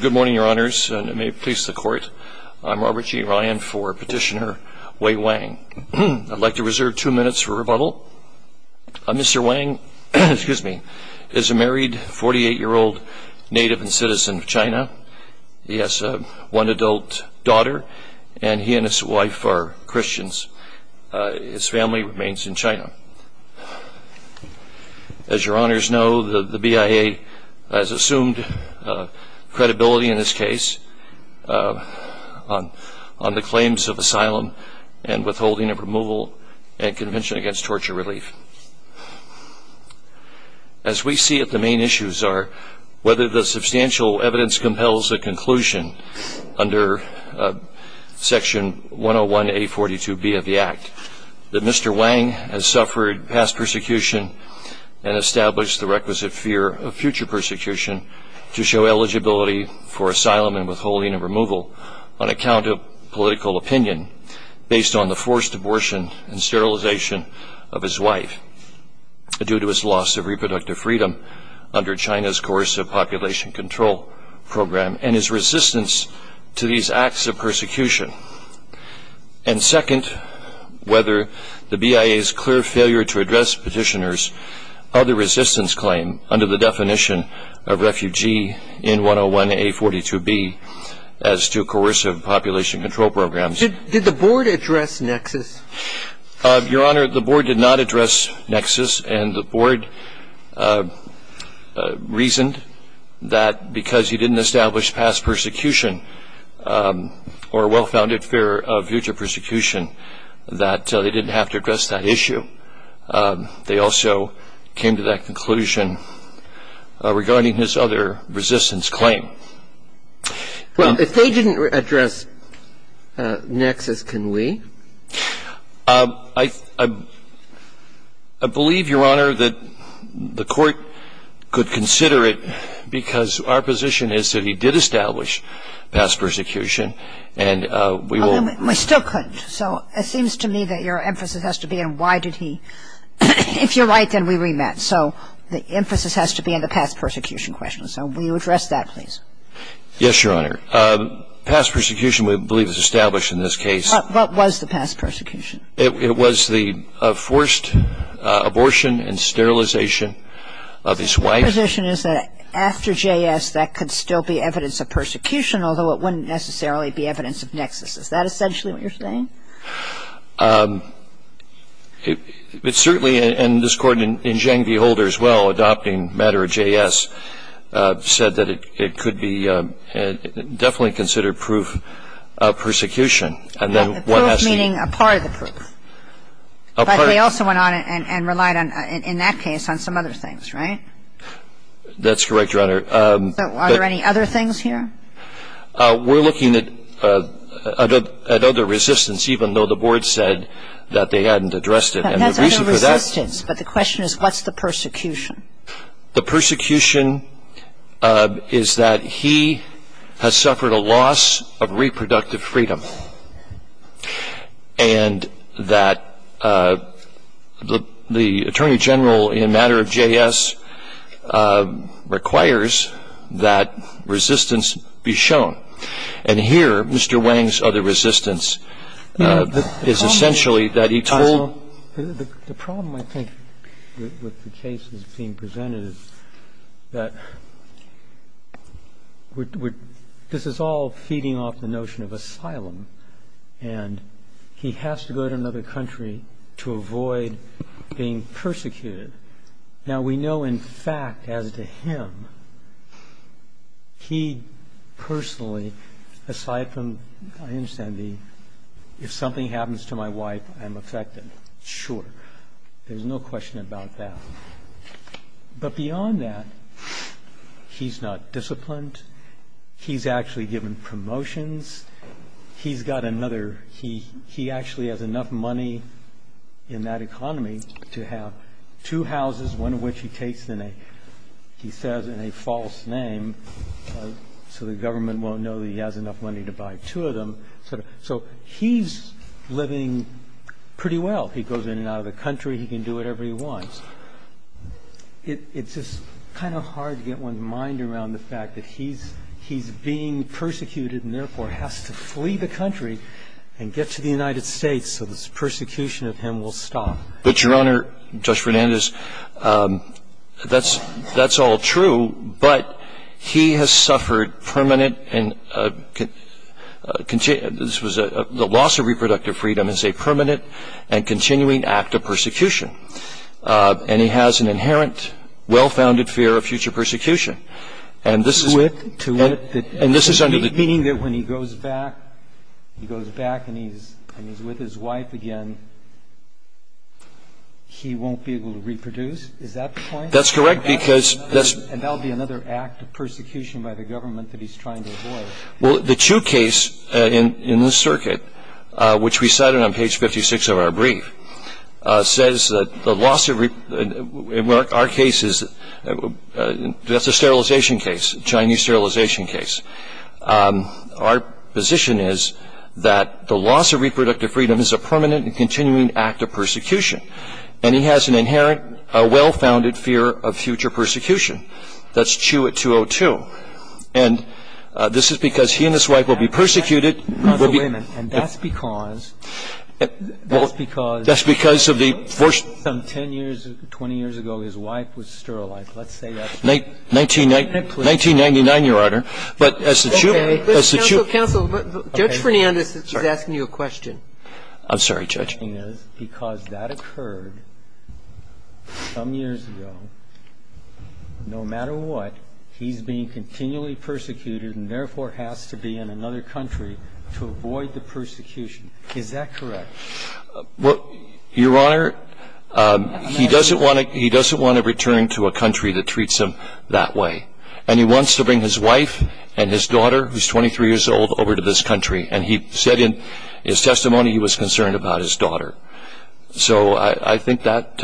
Good morning, Your Honors, and may it please the Court, I'm Robert G. Ryan for Petitioner Wei Wang. I'd like to reserve two minutes for rebuttal. Mr. Wang is a married 48-year-old native and citizen of China. He has one adult daughter, and he and his wife are Christians. His family remains in China. As Your Honors know, the BIA has assumed credibility in this case on the claims of asylum and withholding of removal and Convention Against Torture Relief. As we see it, the main issues are whether the substantial evidence compels a that Mr. Wang has suffered past persecution and established the requisite fear of future persecution to show eligibility for asylum and withholding of removal on account of political opinion based on the forced abortion and sterilization of his wife due to his loss of reproductive freedom under China's coercive population control program and his resistance to these acts of persecution. And second, whether the BIA's clear failure to address petitioner's other resistance claim under the definition of refugee in 101A42B as to coercive population control programs. Did the Board address nexus? Your Honor, the Board did not address nexus, and the Board reasoned that because he didn't establish past persecution or a well-founded fear of future persecution, that they didn't have to address that issue. They also came to that conclusion regarding his other resistance claim. Well, if they didn't address nexus, can we? I believe, Your Honor, that the Court could consider it because our position is that he did establish past persecution, and we will We still couldn't. So it seems to me that your emphasis has to be on why did he? If you're right, then we rematch. So the emphasis has to be on the past persecution question. So will you address that, please? Yes, Your Honor. Past persecution, we believe, is established in this case What was the past persecution? It was the forced abortion and sterilization of his wife So the position is that after J.S., that could still be evidence of persecution, although it wouldn't necessarily be evidence of nexus. Is that essentially what you're saying? It's certainly, and this Court, in Zhang v. Holder as well, adopting matter of J.S., said that it could be definitely considered proof of persecution. Proof meaning a part of the proof. A part of the proof. But they also went on and relied on, in that case, on some other things, right? That's correct, Your Honor. Are there any other things here? We're looking at other resistance, even though the Board said that they hadn't addressed it. That's other resistance, but the question is what's the persecution? The persecution is that he has suffered a loss of reproductive freedom. And that the requires that resistance be shown. And here, Mr. Wang's other resistance is essentially that he told The problem, I think, with the case that's being presented is that this is all feeding off the notion of asylum. And he has to go to another country to avoid being persecuted. Now we know, in fact, as to him, he personally, aside from, I understand, if something happens to my wife, I'm affected. Sure. There's no question about that. But beyond that, he's not disciplined. He's actually given promotions. He's got another, he actually has enough money in that economy to have two houses, one of which he takes in a, he says, in a false name so the government won't know that he has enough money to buy two of them. So he's living pretty well. He goes in and out of the country. He can do whatever he wants. It's just kind of hard to get one's mind around the fact that he's being persecuted and therefore has to But, Your Honor, Judge Fernandez, that's, that's all true. But he has suffered permanent and, this was a, the loss of reproductive freedom is a permanent and continuing act of persecution. And he has an inherent, well-founded fear of future persecution. And this is To wit, to wit And this is under the Meaning that when he goes back, he goes back and he's, and he's with his wife again, he won't be able to reproduce? Is that the point? That's correct because And that'll be another act of persecution by the government that he's trying to avoid. Well, the Chu case in, in the circuit, which we cited on page 56 of our brief, says that the loss of, in our case is, that's a sterilization case, a Chinese sterilization case. Our position is that the loss of reproductive freedom is a permanent and continuing act of persecution. And he has an inherent, well-founded fear of future persecution. That's Chu at 202. And this is because he and his wife will be persecuted And that's because, that's because That's because of the Some 10 years, 20 years ago, his wife was sterilized. Let's say that's 1999, Your Honor. But as the Chu Okay. Counsel, counsel, Judge Fernandez is asking you a question. I'm sorry, Judge. Because that occurred some years ago. No matter what, he's being continually persecuted and therefore has to be in another country to avoid the persecution. Is that correct? Well, Your Honor, he doesn't want to, he doesn't want to return to a country that treats him that way. And he wants to bring his wife and his daughter, who's 23 years old, over to this country. And he said in his testimony he was concerned about his daughter. So I, I think that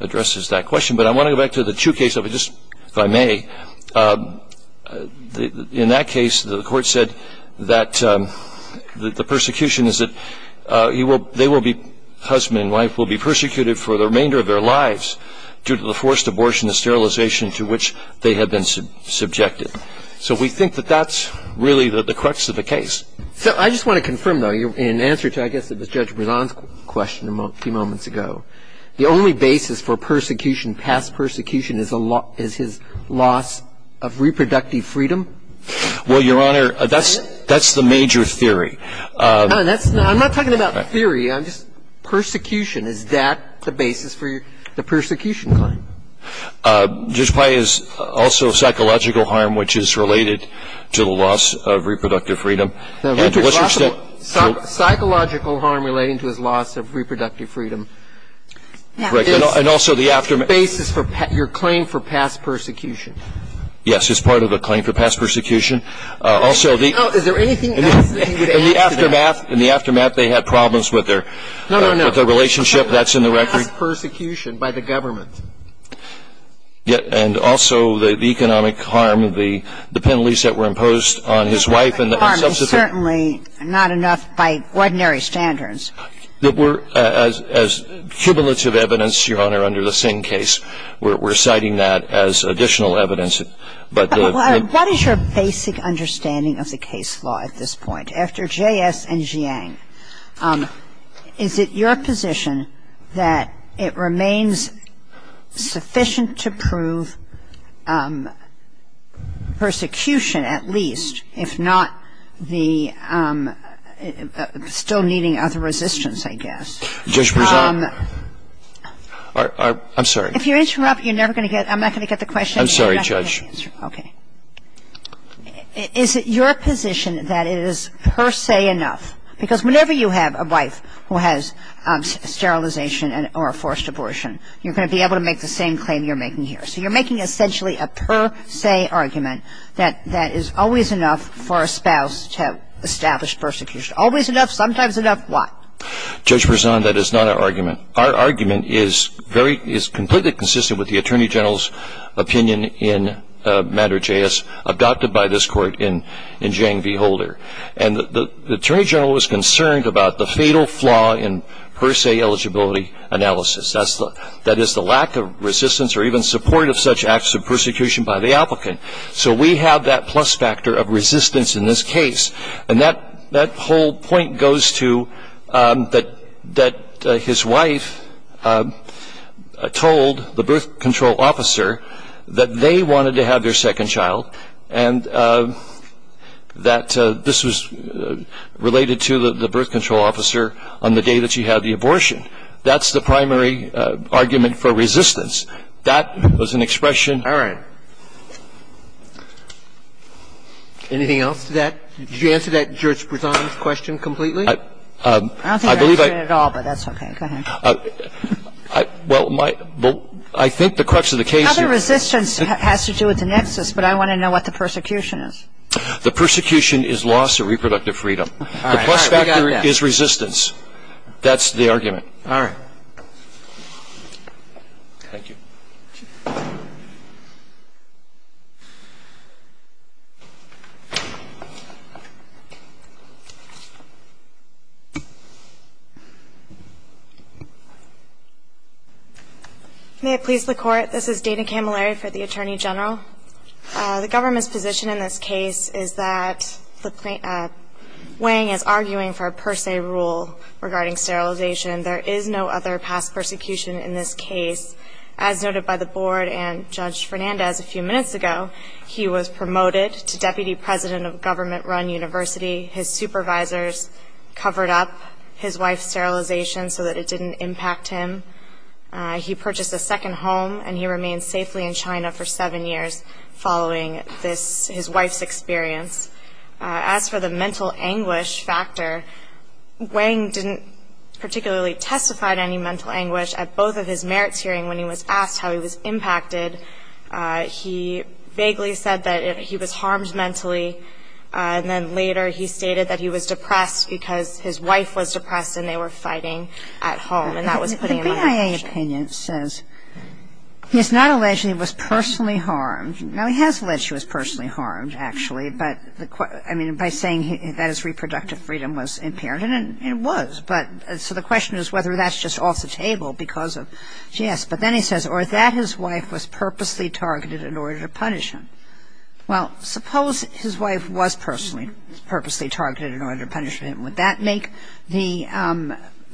addresses that question. But I want to go back to the Chu case, if I just, if I may. In that case, the court said that the persecution is that he will, they will be, husband and wife will be persecuted for the remainder of their lives due to the forced abortion and sterilization to which they had been subjected. So we think that that's really the crux of the case. So I just want to confirm, though, in answer to, I guess it was Judge Brisson's question a few moments ago, the only basis for persecution, past persecution, is his loss of reproductive freedom? Well, Your Honor, that's, that's the major theory. No, that's not, I'm not talking about theory. I'm just, persecution, is that the basis for the persecution claim? Judge Pai is also psychological harm, which is related to the loss of reproductive freedom. Psychological harm relating to his loss of reproductive freedom is the basis for your claim for past persecution. Yes, it's part of the claim for past persecution. Also the Is there anything else that needs to be added to that? In the aftermath, in the aftermath, they had problems with their relationship. That's in the record. No, no, no. Past persecution by the government. Yes, and also the economic harm, the penalties that were imposed on his wife and the Substitute. Economic harm is certainly not enough by ordinary standards. We're, as cumulative evidence, Your Honor, under the Singh case, we're citing that as additional evidence, but the But what is your basic understanding of the case law at this point? After J.S. and Jiang, Is it your position that it remains sufficient to prove persecution at least, if not the, still needing other resistance, I guess? Judge Brewer. I'm sorry. If you interrupt, you're never going to get, I'm not going to get the question. I'm sorry, Judge. Okay. Is it your position that it is per se enough, because we know that it's not Whenever you have a wife who has sterilization or a forced abortion, you're going to be able to make the same claim you're making here. So you're making essentially a per se argument that that is always enough for a spouse to establish persecution. Always enough, sometimes enough, why? Judge Prezant, that is not our argument. Our argument is very, is completely consistent with the Attorney General's opinion in matter J.S., adopted by this Court in Jiang v. Holder. And the Attorney General was concerned about the fatal flaw in per se eligibility analysis. That is the lack of resistance or even support of such acts of persecution by the applicant. So we have that plus factor of resistance in this case. And that whole point goes to that his wife told the birth control officer that they wanted to have their second child and that this was related to the birth control officer on the day that she had the abortion. That's the primary argument for resistance. That was an expression All right. Anything else to that? Did you answer that Judge Prezant's question completely? I don't think I answered it at all, but that's okay. Go ahead. Well, I think the crux of the case Another resistance has to do with the nexus, but I want to know what the persecution is. The persecution is loss of reproductive freedom. The plus factor is resistance. That's the argument. All right. Thank you. May it please the Court. This is Dana Camilleri for the Attorney General. The government's position in this case is that Wang is arguing for a per se rule regarding sterilization. There is no other past persecution in this case. As noted by the Board and Judge Fernandez a few minutes ago, he was promoted to Deputy President of a government-run university. His supervisors covered up his wife's sterilization so that it didn't impact him. He purchased a second home and he remained safely in China for seven years following his wife's experience. As for the mental anguish factor, Wang didn't particularly testify to any mental anguish at both of his merits hearings when he was asked how he was impacted. He vaguely said that he was harmed mentally, and then later he stated that he was depressed because his wife was depressed and they were fighting at home, and that was put in the question. The Grand I.A. opinion says he is not alleged that he was personally harmed. Now, he has the question, I mean, by saying that his reproductive freedom was impaired, and it was, but so the question is whether that's just off the table because of, yes, but then he says or that his wife was purposely targeted in order to punish him. Well, suppose his wife was personally, purposely targeted in order to punish him. Would that make the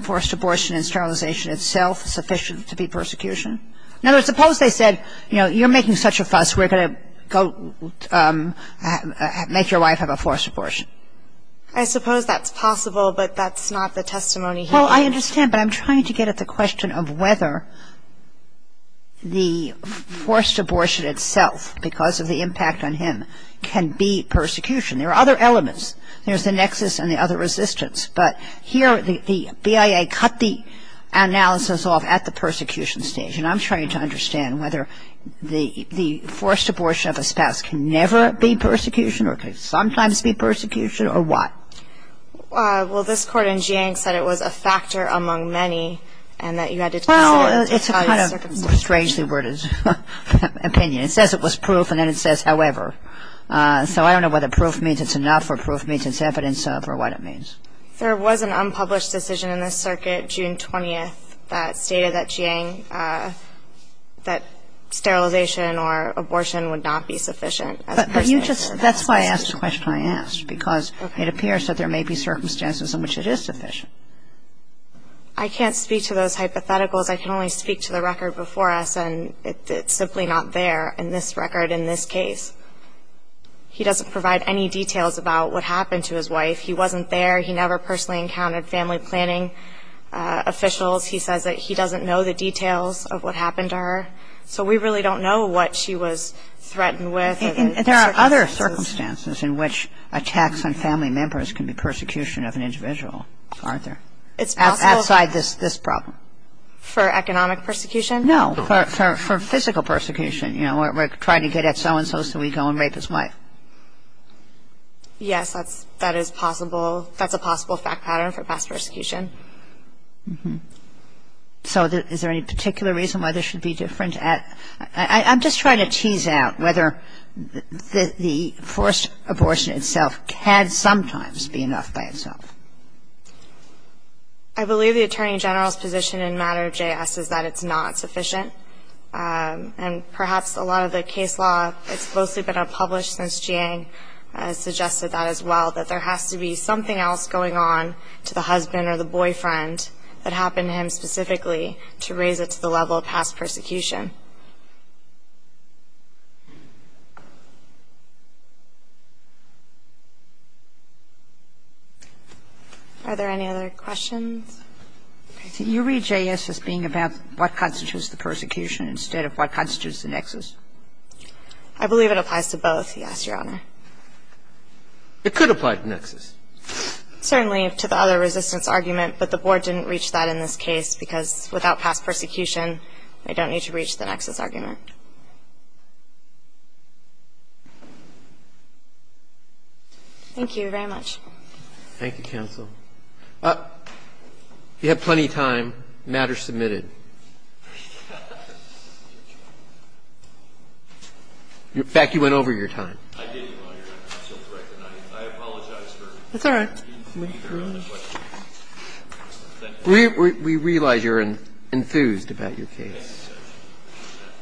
forced abortion and sterilization itself sufficient to be persecution? In other words, suppose they said, you know, you're making such a fuss, we're going to go make your wife have a forced abortion. I suppose that's possible, but that's not the testimony here. Well, I understand, but I'm trying to get at the question of whether the forced abortion itself because of the impact on him can be persecution. There are other elements. There's the nexus and the other resistance, but here the B.I.A. cut the analysis off at the persecution stage, and I'm trying to understand whether the forced abortion of a spouse can never be persecution or can sometimes be persecution or what. Well, this Court in Jiang said it was a factor among many and that you had to consider the circumstances. Well, it's a kind of strangely worded opinion. It says it was proof, and then it says however. So I don't know whether proof means it's enough or proof means it's evidence of or what it means. There was an unpublished decision in the circuit June 20th that stated that Jiang, that sterilization or abortion would not be sufficient as a person. That's why I asked the question I asked because it appears that there may be circumstances in which it is sufficient. I can't speak to those hypotheticals. I can only speak to the record before us, and it's simply not there in this record in this case. He doesn't provide any details about what happened. He never personally encountered family planning officials. He says that he doesn't know the details of what happened to her. So we really don't know what she was threatened with. There are other circumstances in which attacks on family members can be persecution of an individual, aren't there? It's possible. Outside this problem. For economic persecution? No, for physical persecution. You know, trying to get at so-and-so so we go and rape his wife. Yes, that is possible. That's a possible fact pattern for past persecution. So is there any particular reason why this should be different? I'm just trying to tease out whether the forced abortion itself can sometimes be enough by itself. I believe the Attorney General's position in matter of JS is that it's not sufficient. And perhaps a lot of the case law, it's mostly been unpublished since June 20th. Ms. Jiang has suggested that as well, that there has to be something else going on to the husband or the boyfriend that happened to him specifically to raise it to the level of past persecution. Are there any other questions? You read JS as being about what constitutes the persecution instead of what constitutes the nexus. I believe it applies to both, yes, Your Honor. It could apply to nexus. Certainly to the other resistance argument, but the Board didn't reach that in this case because without past persecution, they don't need to reach the nexus argument. Thank you very much. Thank you, counsel. You have plenty of time. Matter submitted. In fact, you went over your time. We realize you're enthused about your case.